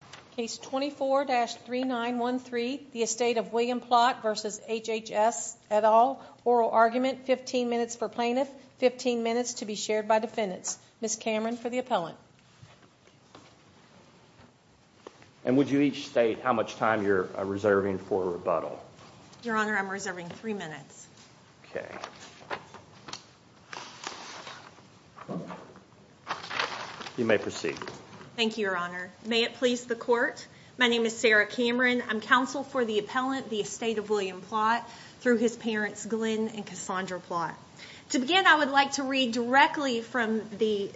at all. Oral argument, 15 minutes for plaintiff, 15 minutes to be shared by defendants. Ms. Cameron for the appellant. And would you each state how much time you're reserving for rebuttal? Your Honor, I'm reserving three minutes. Okay. You may proceed. Thank you, Your Honor. May it please the court. My name is Sarah Cameron. I'm counsel for the appellant, the Estate of William Plott, through his parents, Glenn and Cassandra Plott. To begin, I would like to read directly from the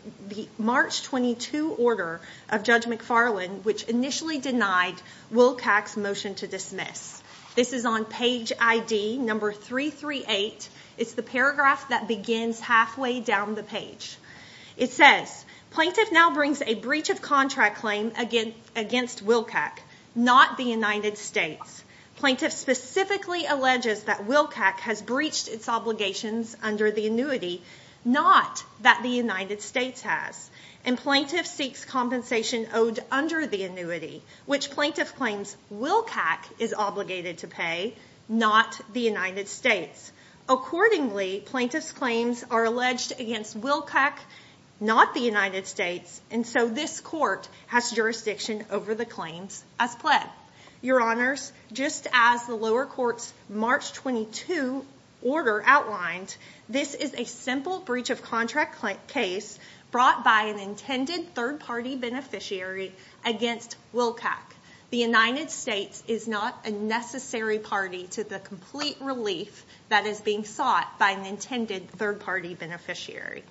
March 22 order of Judge McFarland, which initially denied Wilcox's motion to dismiss. This is on page ID number 338. It's the paragraph that begins halfway down the page. It says, plaintiff now brings a breach of contract claim against Wilcox, not the United States. Plaintiff specifically alleges that Wilcox has breached its obligations under the annuity, not that the United States has. And which plaintiff claims Wilcox is obligated to pay, not the United States. Accordingly, plaintiff's claims are alleged against Wilcox, not the United States. And so this court has jurisdiction over the claims as pled. Your Honors, just as the lower court's March 22 order outlined, this is a simple breach of contract case brought by an intended third beneficiary against Wilcox. The United States is not a necessary party to the complete relief that is being sought by an intended third party beneficiary.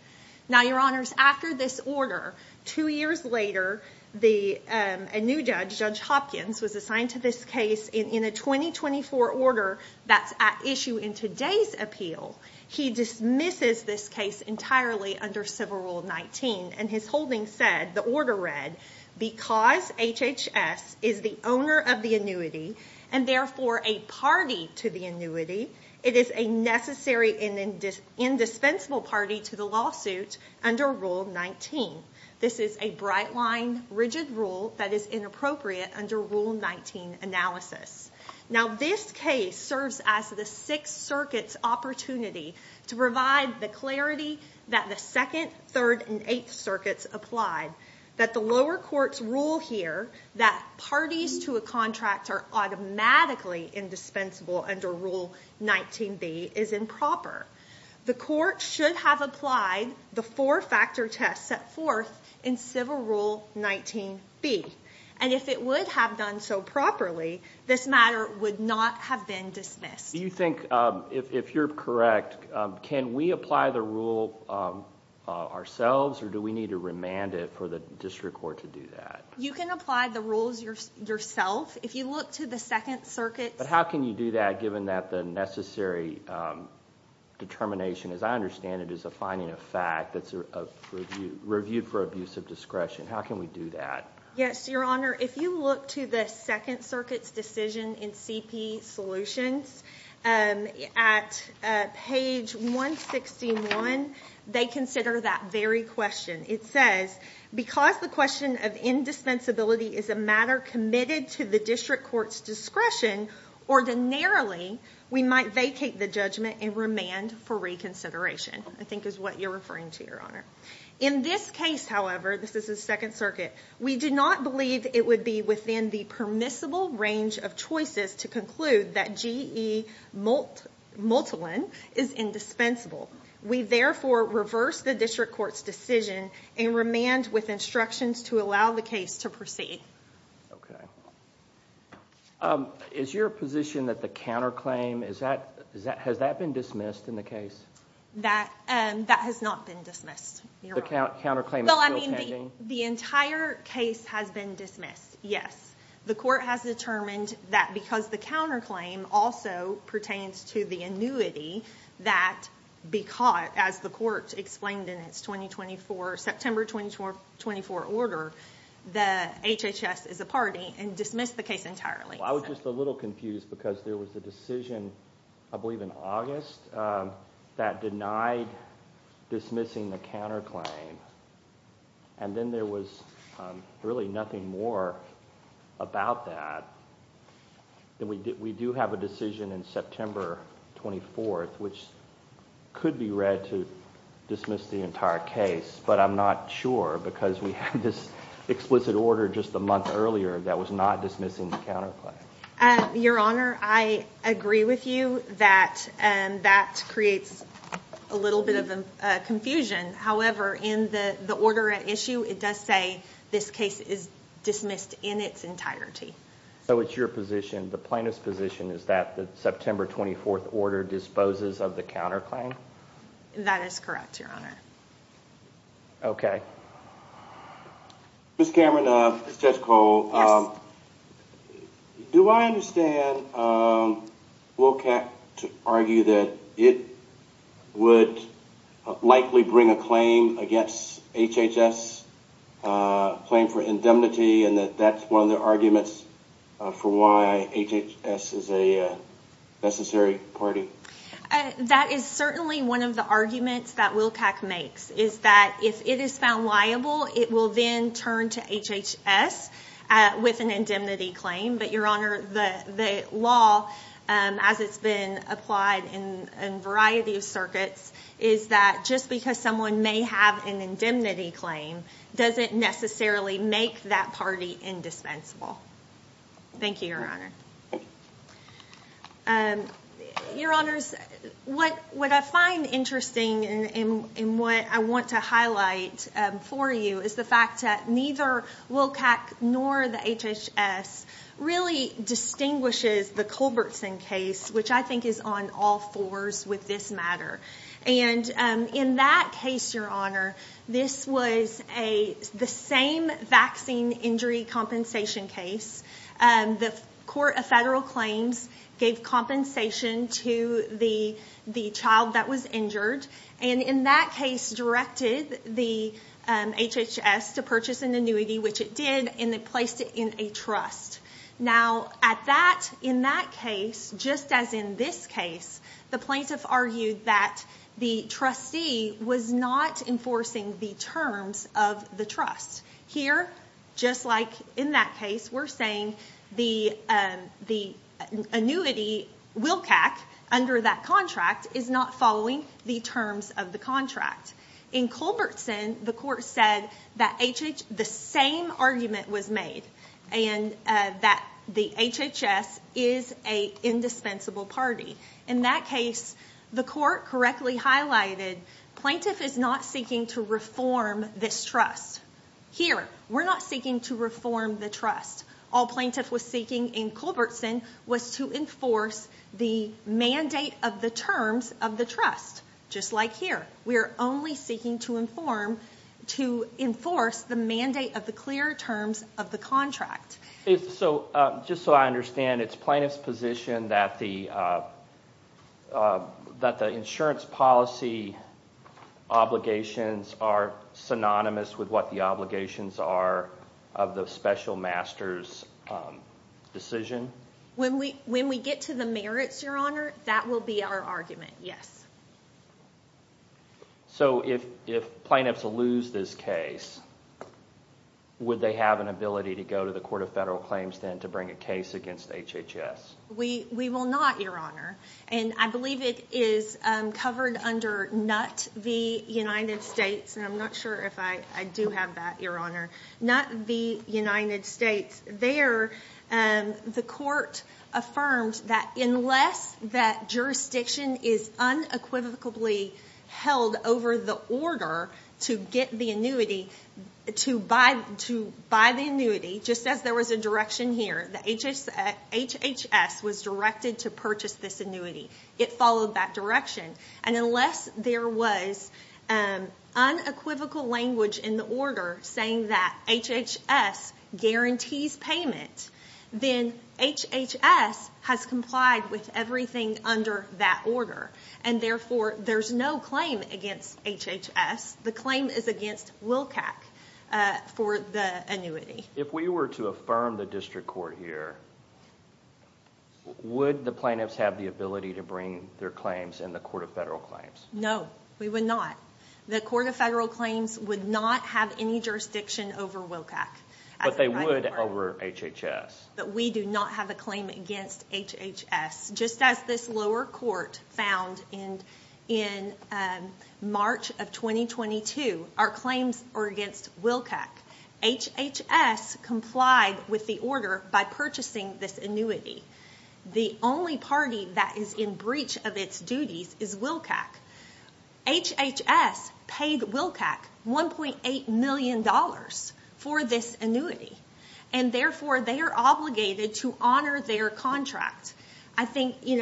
Now, Your Honors, after this order, two years later, a new judge, Judge Hopkins, was assigned to this case in a 2024 order that's at issue in today's appeal. He dismisses this case entirely under Civil Rule 19. And his holding said, the order read, because HHS is the owner of the annuity and therefore a party to the annuity, it is a necessary and indispensable party to the lawsuit under Rule 19. This is a bright line, rigid rule that is inappropriate under Rule 19 analysis. Now, this case serves as the Sixth that the lower court's rule here that parties to a contract are automatically indispensable under Rule 19b is improper. The court should have applied the four-factor test set forth in Civil Rule 19b. And if it would have done so properly, this matter would not have been dismissed. Do you think, if you're correct, can we apply the rule ourselves or do we need to remand it for the district court to do that? You can apply the rules yourself if you look to the Second Circuit. But how can you do that given that the necessary determination, as I understand it, is a finding of fact that's reviewed for abuse of discretion. How can we do that? Yes, Your Honor, if you look to the Second Circuit's decision in CP Solutions at page 161, they consider that very question. It says, because the question of indispensability is a matter committed to the district court's discretion, ordinarily, we might vacate the judgment and remand for reconsideration, I think is what you're referring to, Your Honor. In this case, however, this is the Second Circuit, we do not believe it would be within the permissible range of choices to conclude that GE multiline is indispensable. We therefore reverse the district court's decision and remand with instructions to allow the case to proceed. Okay. Is your position that the counterclaim, has that been dismissed in the case? That has not been dismissed, Your Honor. Counterclaim is still pending? The entire case has been dismissed, yes. The court has determined that because the counterclaim also pertains to the annuity that because, as the court explained in its September 2024 order, the HHS is a party and dismissed the case entirely. I was just a little confused because there was a decision, I believe in August, that denied dismissing the counterclaim, and then there was really nothing more about that. We do have a decision in September 24th, which could be read to dismiss the entire case, but I'm not sure because we had this explicit order just a month earlier that was not dismissing the counterclaim. Your Honor, I agree with you that that creates a little bit of confusion. However, in the order at issue, it does say this case is dismissed in its entirety. So it's your position, the plaintiff's position, is that the September 24th order disposes of the counterclaim? That is correct, Your Honor. Okay. Ms. Cameron, this is Judge Cole. Yes. Do I understand Wilcox to argue that it would likely bring a claim against HHS, a claim for indemnity, and that that's one of the arguments for why HHS is a necessary party? That is certainly one of the arguments that Wilcox makes, is that if it is found liable, it will then turn to HHS with an indemnity claim. But Your Honor, the law, as it's been applied in a variety of circuits, is that just because someone may have an indemnity claim doesn't necessarily make that party indispensable. Thank you, Your Honor. Your Honors, what I find interesting and what I want to highlight for you is the fact that neither Wilcox nor the HHS really distinguishes the Culbertson case, which I think is on all fours with this matter. In that case, Your Honor, this was the same vaccine injury compensation case. The Court of Federal Claims gave compensation to the child that was injured, and in that case, directed the HHS to purchase an annuity, which it did, and they placed it in a trust. Now, in that case, just as in this case, the plaintiff argued that the trustee was not enforcing the terms of the trust. Here, just like in that case, we're saying the annuity, Wilcox, under that contract, is not following the terms of the contract. In Culbertson, the Court said that the same argument was made, and that the HHS is an indispensable party. In that case, the Court correctly highlighted, plaintiff is not seeking to reform this trust. Here, we're not seeking to reform the trust. All plaintiff was seeking in Culbertson was to the mandate of the terms of the trust, just like here. We're only seeking to enforce the mandate of the clear terms of the contract. Just so I understand, it's plaintiff's position that the insurance policy obligations are synonymous with what the obligations are of the special master's decision? When we get to the merits, Your Honor, that will be our argument, yes. If plaintiffs lose this case, would they have an ability to go to the Court of Federal Claims then to bring a case against HHS? We will not, Your Honor. I believe it is covered under NUT v. United States. I'm not sure if I do have that, Your Honor. Not v. United States. There, the Court affirmed that unless that jurisdiction is unequivocally held over the order to get the annuity, to buy the annuity, just as there was a direction here, the HHS was directed to purchase this annuity. It followed that direction. Unless there was an unequivocal language in the order saying that HHS guarantees payment, then HHS has complied with everything under that order. Therefore, there's no claim against HHS. The claim is against WILCAC for the annuity. If we were to affirm the district court here, would the plaintiffs have the ability to bring their claims in the Court of Federal Claims? No, we would not. The Court of Federal Claims would not have any jurisdiction over WILCAC. But they would over HHS. But we do not have a claim against HHS. Just as this lower court found in March of 2022, our claims are against WILCAC. HHS complied with the order by purchasing this annuity. The only party that is in breach of duties is WILCAC. HHS paid WILCAC $1.8 million for this annuity. Therefore, they are obligated to honor their contract. I think in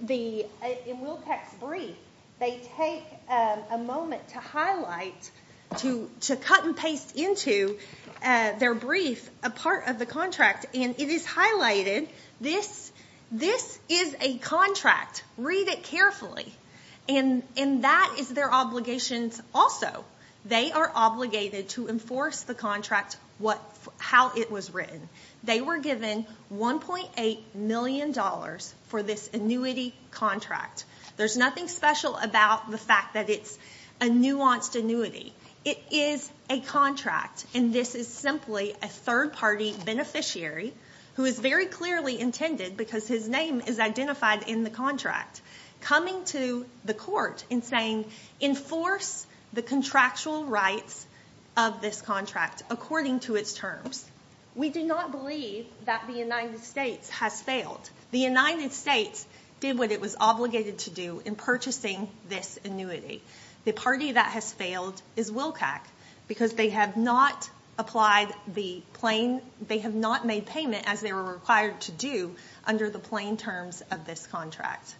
WILCAC's brief, they take a moment to cut and paste into their brief a part of the contract. It is highlighted. This is a contract. Read it carefully. That is their obligation also. They are obligated to enforce the contract how it was written. They were given $1.8 million for this annuity contract. There's nothing special about the fact that it's a nuanced annuity. It is a contract. And this is simply a third-party beneficiary who is very clearly intended, because his name is identified in the contract, coming to the court and saying, enforce the contractual rights of this contract according to its terms. We do not believe that the United States has failed. The United States did what it was obligated to do in purchasing this annuity. The party that has failed is WILCAC because they have not made payment as they were required to do under the plain terms of this contract.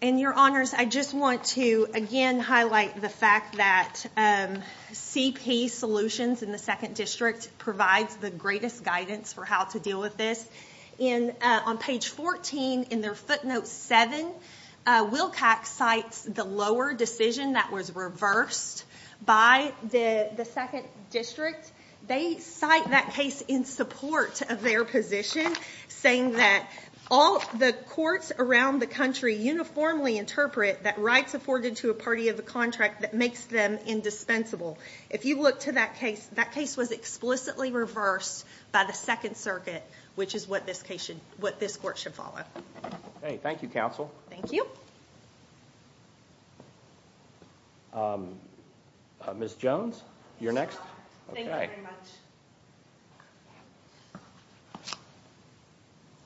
In your honors, I just want to again highlight the fact that CP Solutions in the Second District provides the greatest guidance for how to deal with this. On page 14 in their footnote 7, WILCAC cites the lower decision that was reversed by the Second District. They cite that case in support of their position, saying that all the courts around the country uniformly interpret that rights afforded to a party of the contract that makes them indispensable. If you look to that case, that case was explicitly reversed by the Second Circuit, which is what this court should follow. Thank you, counsel. Thank you. Ms. Jones, you're next. Thank you very much.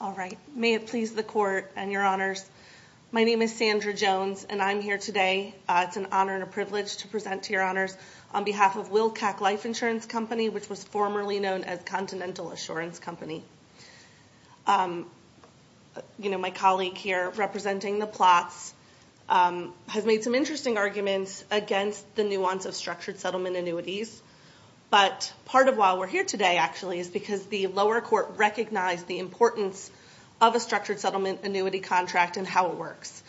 All right. May it please the court and your honors. My name is Sandra Jones and I'm here today. It's an honor and a privilege to present to your honors on behalf of WILCAC Life Insurance Company, which was formerly known as Continental Assurance Company. My colleague here representing the plots has made some interesting arguments against the nuance of structured settlement annuities, but part of why we're here today actually is because the lower court recognized the importance of a structured settlement annuity contract and how it works.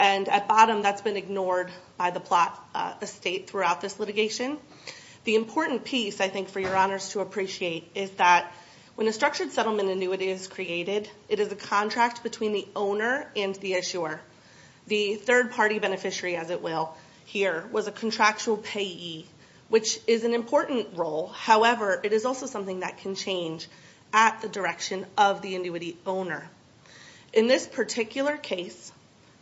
At bottom, that's been ignored by the plot estate throughout this litigation. The important piece, I think, for your honors to appreciate is that when a structured settlement annuity is created, it is a contract between the owner and the issuer. The third party beneficiary, as it will here, was a contractual payee, which is an important role. However, it is also something that can change at the direction of the annuity owner. In this particular case,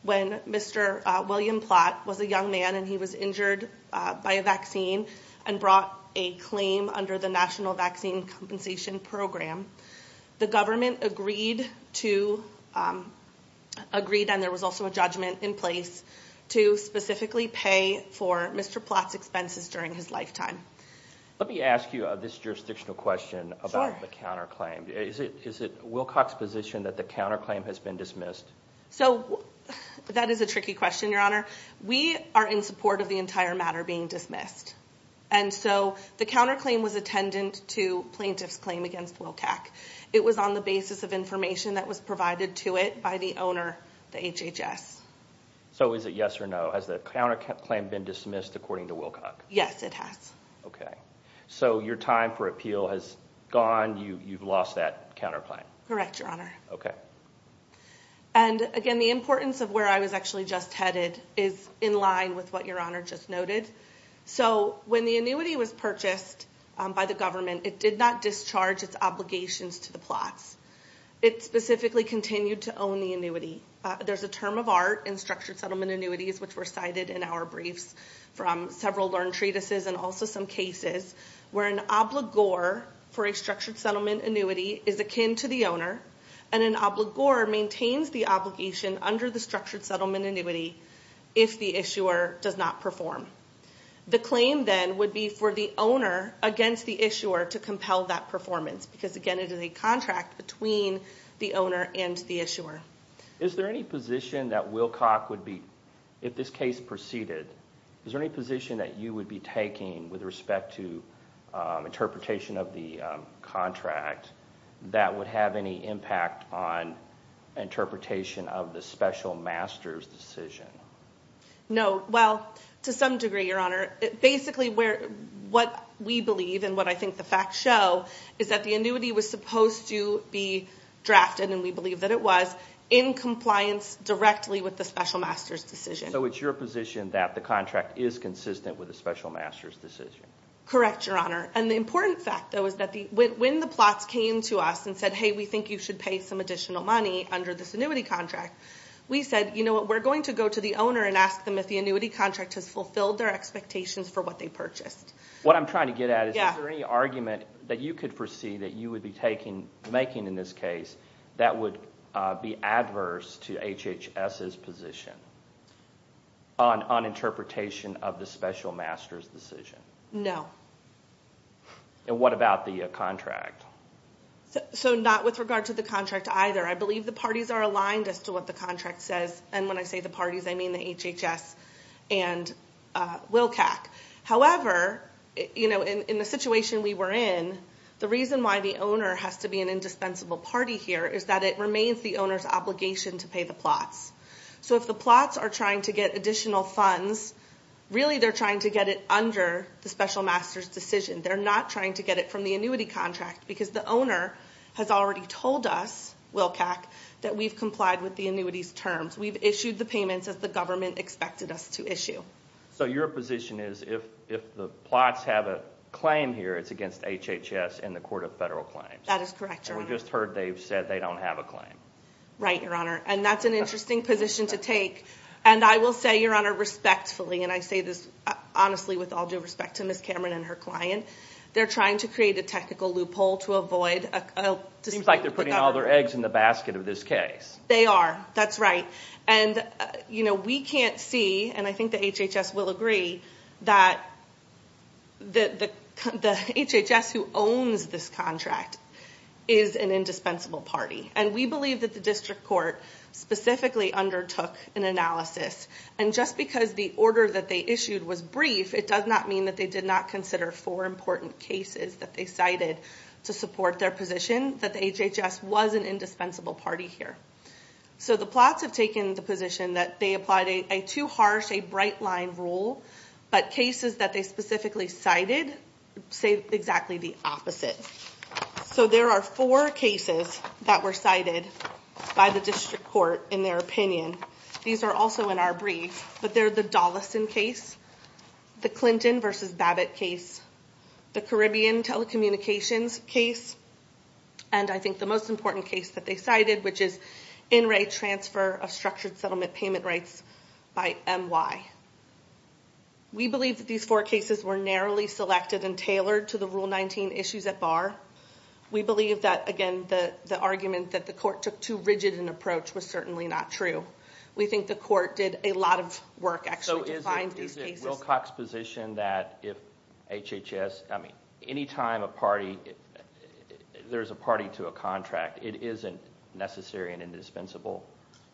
when Mr. William Plott was a young man and he was injured by a vaccine and brought a claim under the National Vaccine Compensation Program, the government agreed and there was also a judgment in place to specifically pay for Mr. Plott's expenses during his lifetime. Let me ask you this jurisdictional question about the counterclaim. Is it WILCAC's position that the counterclaim has been dismissed? That is a tricky question, your honor. We are in support of the entire matter being dismissed. The counterclaim was attendant to plaintiff's claim against WILCAC. It was on the basis of information that was provided to it by the owner, the HHS. Is it yes or no? Has the counterclaim been dismissed according to WILCAC? Yes, it has. Your time for appeal has gone. You've lost that counterclaim. Correct, your honor. The importance of where I was actually just headed is in line with what your honor just noted. When the annuity was purchased by the government, it did not discharge its obligations to the Plotts. It specifically continued to own the annuity. There's a term of art in structured settlement annuities, which were cited in our briefs from several learned treatises and also some cases, where an obligor for a structured settlement annuity is akin to the owner, and an obligor maintains the obligation under the structured settlement annuity if the issuer does not perform. The claim then would be for the owner against the issuer to compel that performance, because again, it is a contract between the owner and the issuer. Is there any position that WILCAC would be, if this case proceeded, is there any position that you would be taking with respect to interpretation of the contract that would have any impact on interpretation of the special master's decision? No. Well, to some degree, your honor. Basically, what we believe and what I think the facts show is that the annuity was supposed to be drafted, and we believe that it was, in compliance directly with the special master's decision. So it's your position that the contract is consistent with the special master's decision? Correct, your honor. The important fact, though, is that when the plots came to us and said, hey, we think you should pay some additional money under this annuity contract, we said, you know what, we're going to go to the owner and ask them if the annuity contract has fulfilled their expectations for what they purchased. What I'm trying to get at is, is there any argument that you could foresee that you would be making in this case that would be adverse to HHS's position on interpretation of the special master's decision? No. And what about the contract? So not with regard to the contract either. I believe the parties are aligned as to what the contract says, and when I say the parties, I mean the HHS and WILCAC. However, in the situation we were in, the reason why the owner has to be an indispensable party here is that it remains the obligation to pay the plots. So if the plots are trying to get additional funds, really they're trying to get it under the special master's decision. They're not trying to get it from the annuity contract, because the owner has already told us, WILCAC, that we've complied with the annuity's terms. We've issued the payments as the government expected us to issue. So your position is if the plots have a claim here, it's against HHS and the Court of Federal Claims? That is correct, your honor. We just heard they've said they don't have a claim. Right, your honor. And that's an interesting position to take. And I will say, your honor, respectfully, and I say this honestly with all due respect to Ms. Cameron and her client, they're trying to create a technical loophole to avoid... Seems like they're putting all their eggs in the basket of this case. They are. That's right. And we can't see, and I think the HHS will agree, that the HHS who owns this contract is an indispensable party. And we believe that the district court specifically undertook an analysis. And just because the order that they issued was brief, it does not mean that they did not consider four important cases that they cited to support their position, that the HHS was an indispensable party here. So the plots have taken the position that they applied a too harsh, a bright line rule, but cases that they specifically cited say exactly the opposite. So there are four cases that were cited by the district court in their opinion. These are also in our brief, but they're the Dollison case, the Clinton versus Babbitt case, the Caribbean telecommunications case, and I think the most important case that they cited, which is in-rate transfer of structured settlement payment rights by MY. We believe that these four cases were narrowly selected and tailored to the Rule 19 issues at bar. We believe that, again, the argument that the court took too rigid an approach was certainly not true. We think the court did a lot of work, actually, to find these cases. Is it Wilcox's position that if HHS, I mean, anytime a party, there's a party to a contract, it isn't necessarily an indispensable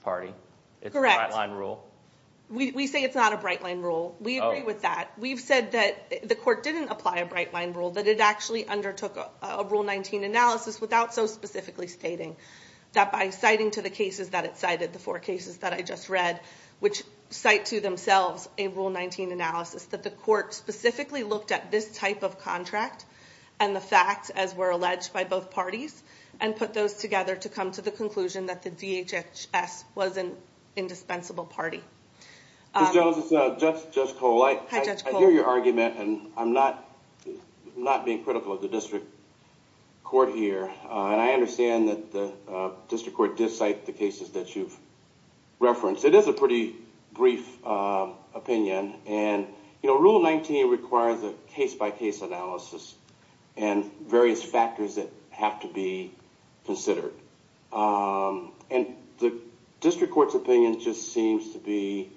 party? It's a bright line rule? Correct. We say it's not a bright line rule. We agree with that. We've said that the court didn't apply a bright line rule, that it actually undertook a Rule 19 analysis without so specifically stating that by citing to the cases that it cited, the four cases that I just read, which cite to themselves a Rule 19 analysis, that the court specifically looked at this type of contract and the facts, as were alleged by both parties, and put those together to come to the conclusion that the DHHS was an indispensable party. Ms. Jones, it's Judge Cole. I hear your argument, and I'm not being critical of the district court here. I understand that the district court did cite the cases that you've referenced. It is a pretty brief opinion. Rule 19 requires a case-by-case analysis and various factors that have to be considered. The district court's opinion just seems to be,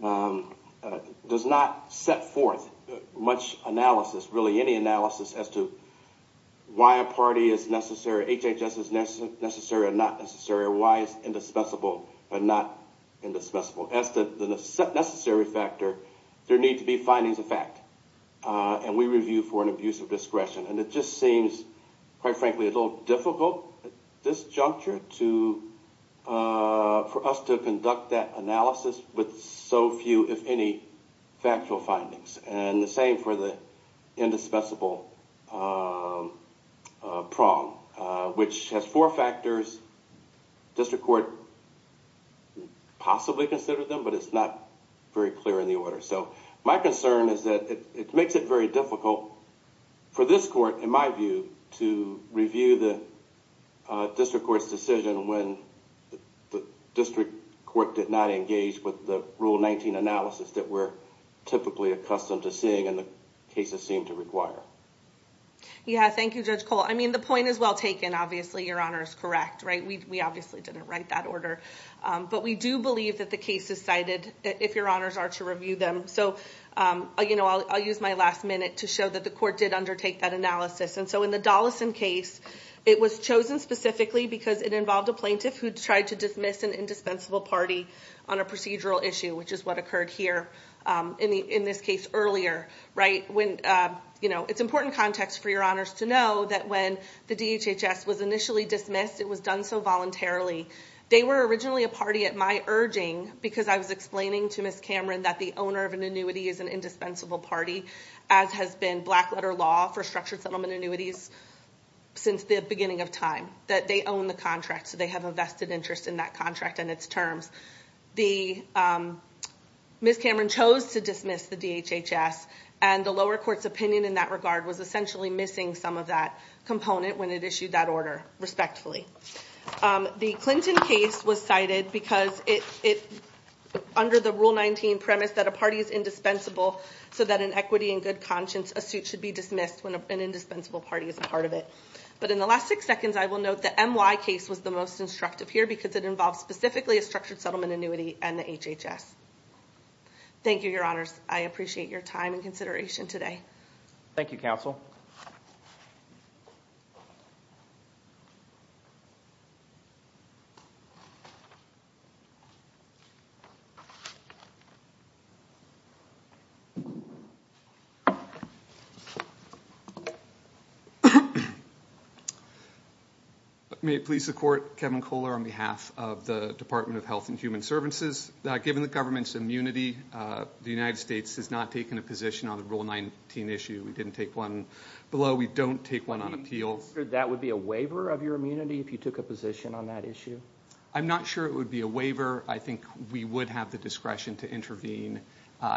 does not set forth much analysis, really any analysis, as to why a party is necessary, HHS is necessary or not necessary, or why it's indispensable or not indispensable. As to the necessary factor, there need to be findings of fact. And we review for an abuse of discretion. And it just seems, quite frankly, a little difficult at this juncture for us to conduct that analysis with so few, if any, factual findings. And the same for the indispensable prong, which has four factors. District court possibly considered them, but it's not very clear in the order. So my concern is that it makes it very difficult for this court, in my view, to review the district court's decision when the district court did not engage with the Rule 19 analysis that we're typically accustomed to seeing and the cases seem to require. Yeah, thank you, Judge Cole. I mean, the point is well taken. Obviously, your honor is correct, right? We obviously didn't write that order. But we do believe that the case is cited, if your honors are to review them. So I'll use my last minute to show that the court did undertake that analysis. And so in the Dollison case, it was chosen specifically because it involved a plaintiff who tried to dismiss an indispensable party on a procedural issue, which is what occurred here in this case earlier, right? It's important context for your honors to know that when the DHHS was initially dismissed, it was done so voluntarily. They were originally a party at my urging because I was explaining to Ms. Cameron that the owner of an annuity is an indispensable party, as has been black letter law for structured settlement annuities since the beginning of time, that they own the contract. So they have a vested interest in that terms. Ms. Cameron chose to dismiss the DHHS. And the lower court's opinion in that regard was essentially missing some of that component when it issued that order, respectfully. The Clinton case was cited because it, under the Rule 19 premise that a party is indispensable, so that in equity and good conscience, a suit should be dismissed when an indispensable party is a part of it. But in the last six seconds, I will note the MY case was the most instructive here because it involved specifically a structured settlement annuity and the DHHS. Thank you, your honors. I appreciate your time and consideration today. Thank you, counsel. May it please the court, Kevin Kohler on behalf of the Department of Health and Human Services. Given the government's immunity, the United States has not taken a position on the Rule 19 issue. We don't take one on appeals. That would be a waiver of your immunity if you took a position on that issue? I'm not sure it would be a waiver. I think we would have the discretion to intervene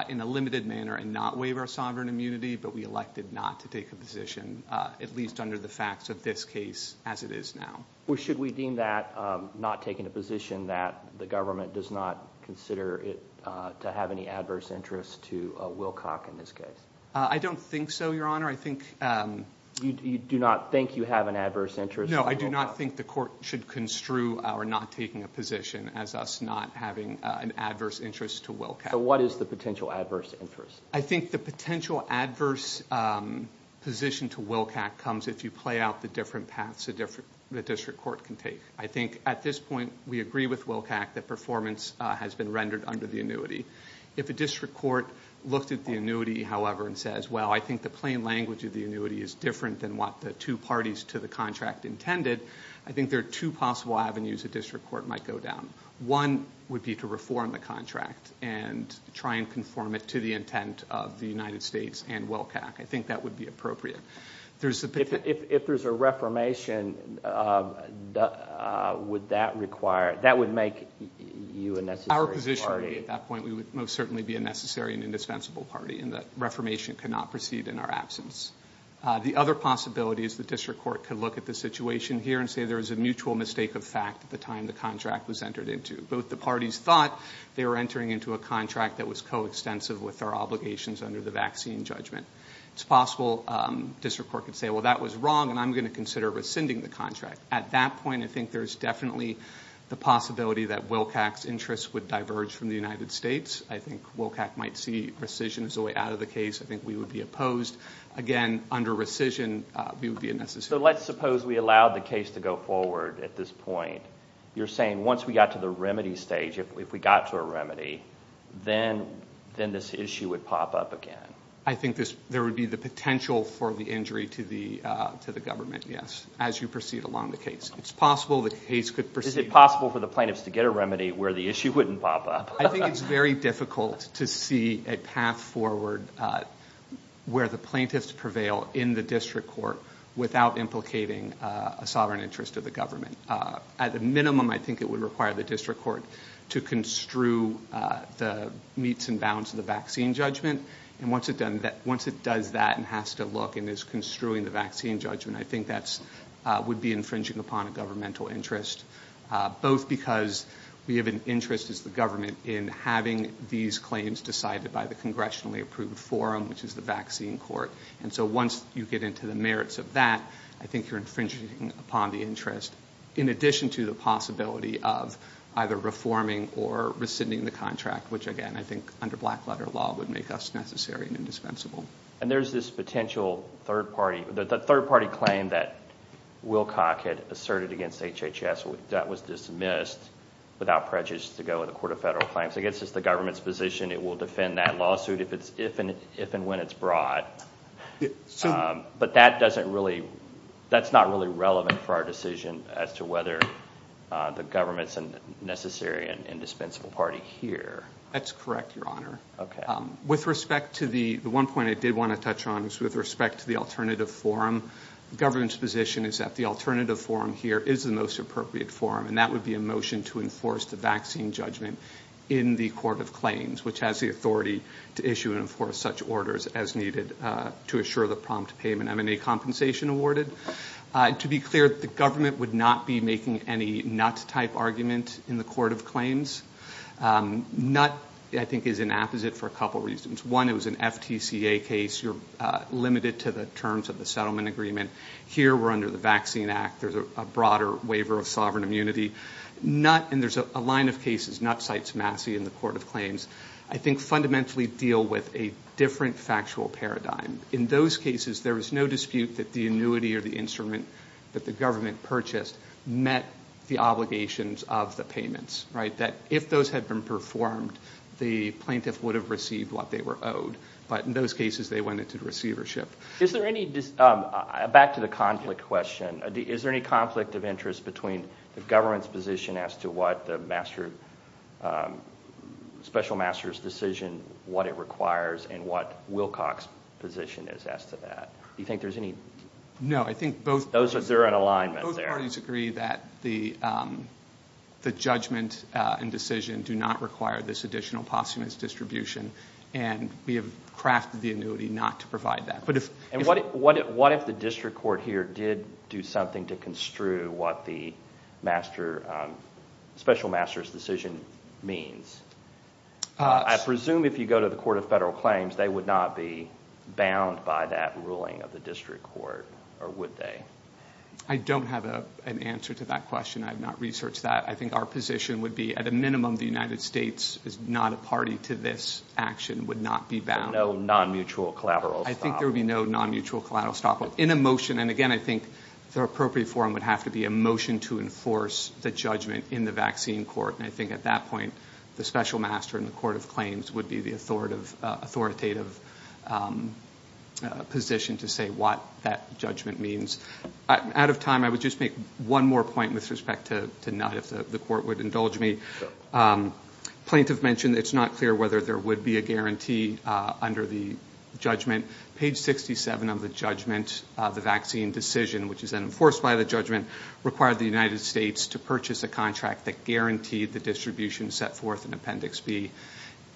in a limited manner and not waive our sovereign immunity, but we elected not to take a position, at least under the facts of this case, as it is now. Or should we deem that not taking a position that the government does not consider it to have any adverse interest to Wilcox in this case? I don't think so, your honor. You do not think you have an adverse interest? No, I do not think the court should construe our not taking a position as us not having an adverse interest to Wilcox. What is the potential adverse interest? I think the potential adverse position to Wilcox comes if you play out the different paths the district court can take. I think at this point, we agree with Wilcox that performance has been rendered under the annuity. If a district court looked at the annuity, however, and says, well, I think the plain language of the annuity is different than what the two parties to the contract intended, I think there are two possible avenues a district court might go down. One would be to reform the contract and try and conform it to the intent of the United States and Wilcox. I think that would be appropriate. If there's a reformation, would that require, that would make you a necessary party? Our position at that point, we would most certainly be a necessary and indispensable party and the reformation cannot proceed in our absence. The other possibility is the district court could look at the situation here and say there is a mutual mistake of fact at the time the contract was entered into. Both the parties thought they were entering into a contract that was coextensive with our obligations under the vaccine judgment. It's possible district court could say, well, that was wrong and I'm going to consider rescinding the contract. At that point, I think there's definitely the possibility that Wilcox's interest would diverge from the United States. I think Wilcox might see rescission as a way out of the case. I think we would be opposed. Again, under rescission, we would be a necessary. Let's suppose we allowed the case to go forward at this point. You're saying once we got to the remedy stage, if we got to a remedy, then this issue would pop up again. I think there would be the potential for the injury to the government, yes, as you proceed along the case. It's possible the case could proceed. Is it possible for the plaintiffs to get a remedy where the issue wouldn't pop up? I think it's very difficult to see a path forward where the plaintiffs prevail in the district court without implicating a sovereign interest of the government. At the minimum, I think it would require the district court to construe the meets and bounds of the vaccine judgment. Once it does that and has to look and is construing the vaccine judgment, I think that would be infringing upon a governmental interest, both because we have an interest as the government in having these claims decided by the congressionally approved forum, which is the vaccine court. Once you get into the merits of that, I think you're infringing upon the interest, in addition to the possibility of either reforming or rescinding the contract, which again, I think under black letter law would make us necessary and indispensable. There's this potential third party claim that Wilcock had asserted against HHS that was dismissed without prejudice to go to the court of federal claims. I guess it's the government's position it will defend that lawsuit if and when it's brought, but that's not really relevant for our decision as to whether the government's a necessary and indispensable party here. That's correct, your honor. The one point I did want to touch on was with respect to the alternative forum. The government's position is that the alternative forum here is the most appropriate forum, and that would be a motion to enforce the vaccine judgment in the court of claims, which has the authority to issue and enforce such orders as needed to assure the prompt payment M&A compensation awarded. To be clear, the government would not be making any nut-type argument in the court of claims. Nut, I think, is an apposite for a couple reasons. One, it was an FTCA case. You're limited to the terms of the settlement agreement. Here, we're under the Vaccine Act. There's a broader waiver of sovereign immunity. Nut, and there's a line of cases, nut cites Massey in the court of claims, I think fundamentally deal with a different factual paradigm. In those cases, there is no dispute that the annuity or the instrument that the obligations of the payments, that if those had been performed, the plaintiff would have received what they were owed. In those cases, they went into receivership. Back to the conflict question, is there any conflict of interest between the government's position as to what the special master's decision, what it requires, and what Wilcox's position is as to that? Do you think there's any? No. I think both parties agree that the judgment and decision do not require this additional posthumous distribution. We have crafted the annuity not to provide that. What if the district court here did do something to construe what the special master's decision means? I presume if you go to the court of federal claims, they would not be bound by that ruling of the district court, or would they? I don't have an answer to that question. I have not researched that. I think our position would be at a minimum, the United States is not a party to this action, would not be bound. No non-mutual collateral. I think there would be no non-mutual collateral stop in a motion. Again, I think the appropriate forum would have to be a motion to enforce the judgment in the vaccine court. I think at that point, the special master in the court of claims would be the authoritative position to say what that judgment means. Out of time, I would just make one more point with respect to not if the court would indulge me. Plaintiff mentioned it's not clear whether there would be a guarantee under the judgment. Page 67 of the judgment, the vaccine decision, which is then enforced by the judgment, required the United States to purchase a contract that guaranteed the distribution set forth in Appendix B.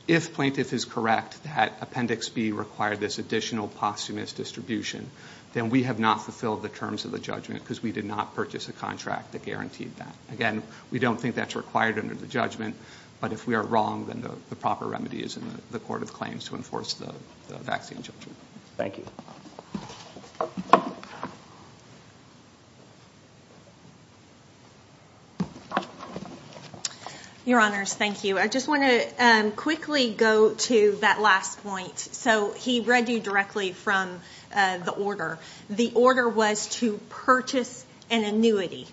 If plaintiff is correct that Appendix B required this additional posthumous distribution, then we have not fulfilled the terms of the judgment because we did not purchase a contract that guaranteed that. Again, we don't think that's required under the judgment, but if we are wrong, then the proper remedy is in the court of claims to enforce the vaccine judgment. Thank you. Your Honors, thank you. I just want to quickly go to that last point. He read you directly from the order. The order was to purchase an annuity.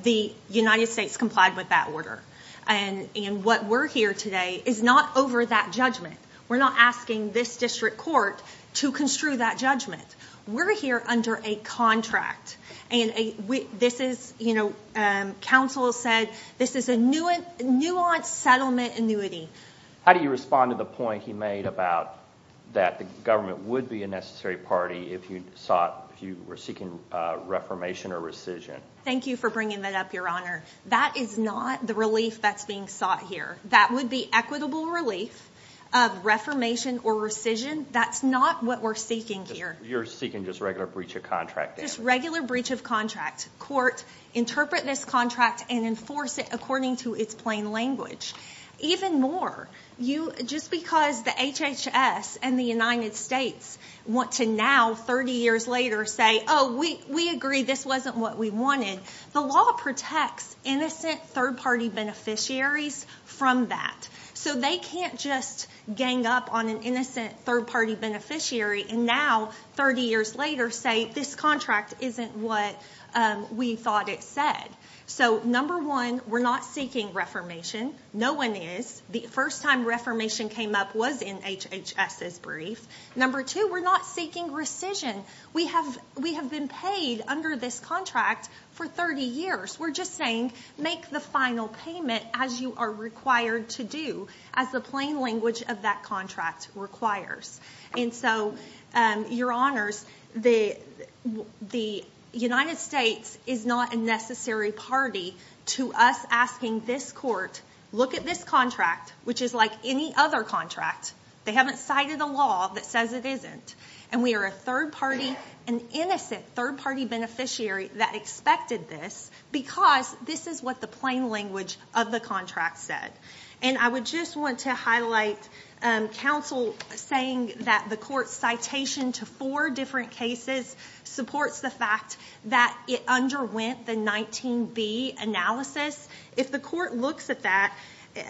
The United States complied with that order. And what we're here today is not over that judgment. We're not asking this district court to construe that judgment. We're here under a contract. Council said this is a nuanced settlement annuity. How do you respond to the point he made about that the government would be a necessary party if you were seeking reformation or rescission? Thank you for bringing that up, Your Honor. That is not the relief that's being sought here. That would be equitable relief of reformation or rescission. That's not what we're seeking here. You're seeking just regular breach of contract? Just regular breach of contract. Court interpret this contract and enforce it according to its plain language. Even more, just because the HHS and the United States want to now, 30 years later, say, oh, we agree this wasn't what we wanted, the law protects innocent third-party beneficiaries from that. So they can't just gang up on an innocent third-party beneficiary and now, 30 years later, say this contract isn't what we thought it said. So, number one, we're not seeking reformation. No one is. The first time reformation came up was in HHS's brief. Number two, we're not seeking rescission. We have been paid under this contract for 30 years. We're just saying, make the final payment as you are required to do, as the plain language of that contract requires. And so, Your Honors, the United States is not a necessary party to us asking this court, look at this contract, which is like any other contract. They haven't cited a law that says it isn't. And we are a third-party, an innocent third-party beneficiary that expected this because this is what the plain language of the contract said. And I would just want to highlight counsel saying that the court's citation to four different cases supports the fact that it underwent the 19B analysis. If the court looks at that,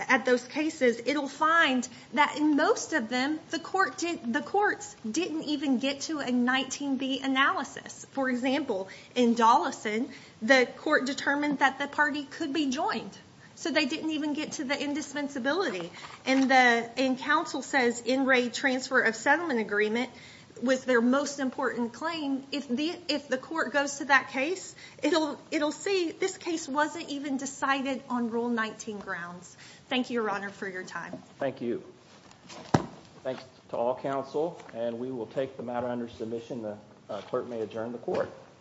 at those cases, it'll find that in most of them, the courts didn't even get to a 19B analysis. For example, in Dollison, the court determined that the party could be joined, so they didn't even get to the indispensability. And counsel says, in Raid Transfer of Settlement Agreement, with their most important claim, if the court goes to that case, it'll see this case wasn't even decided on Rule 19 grounds. Thank you, Your Honor, for your time. Thank you. Thank you. Thanks to all counsel. And we will take the matter under submission. The clerk may adjourn the court.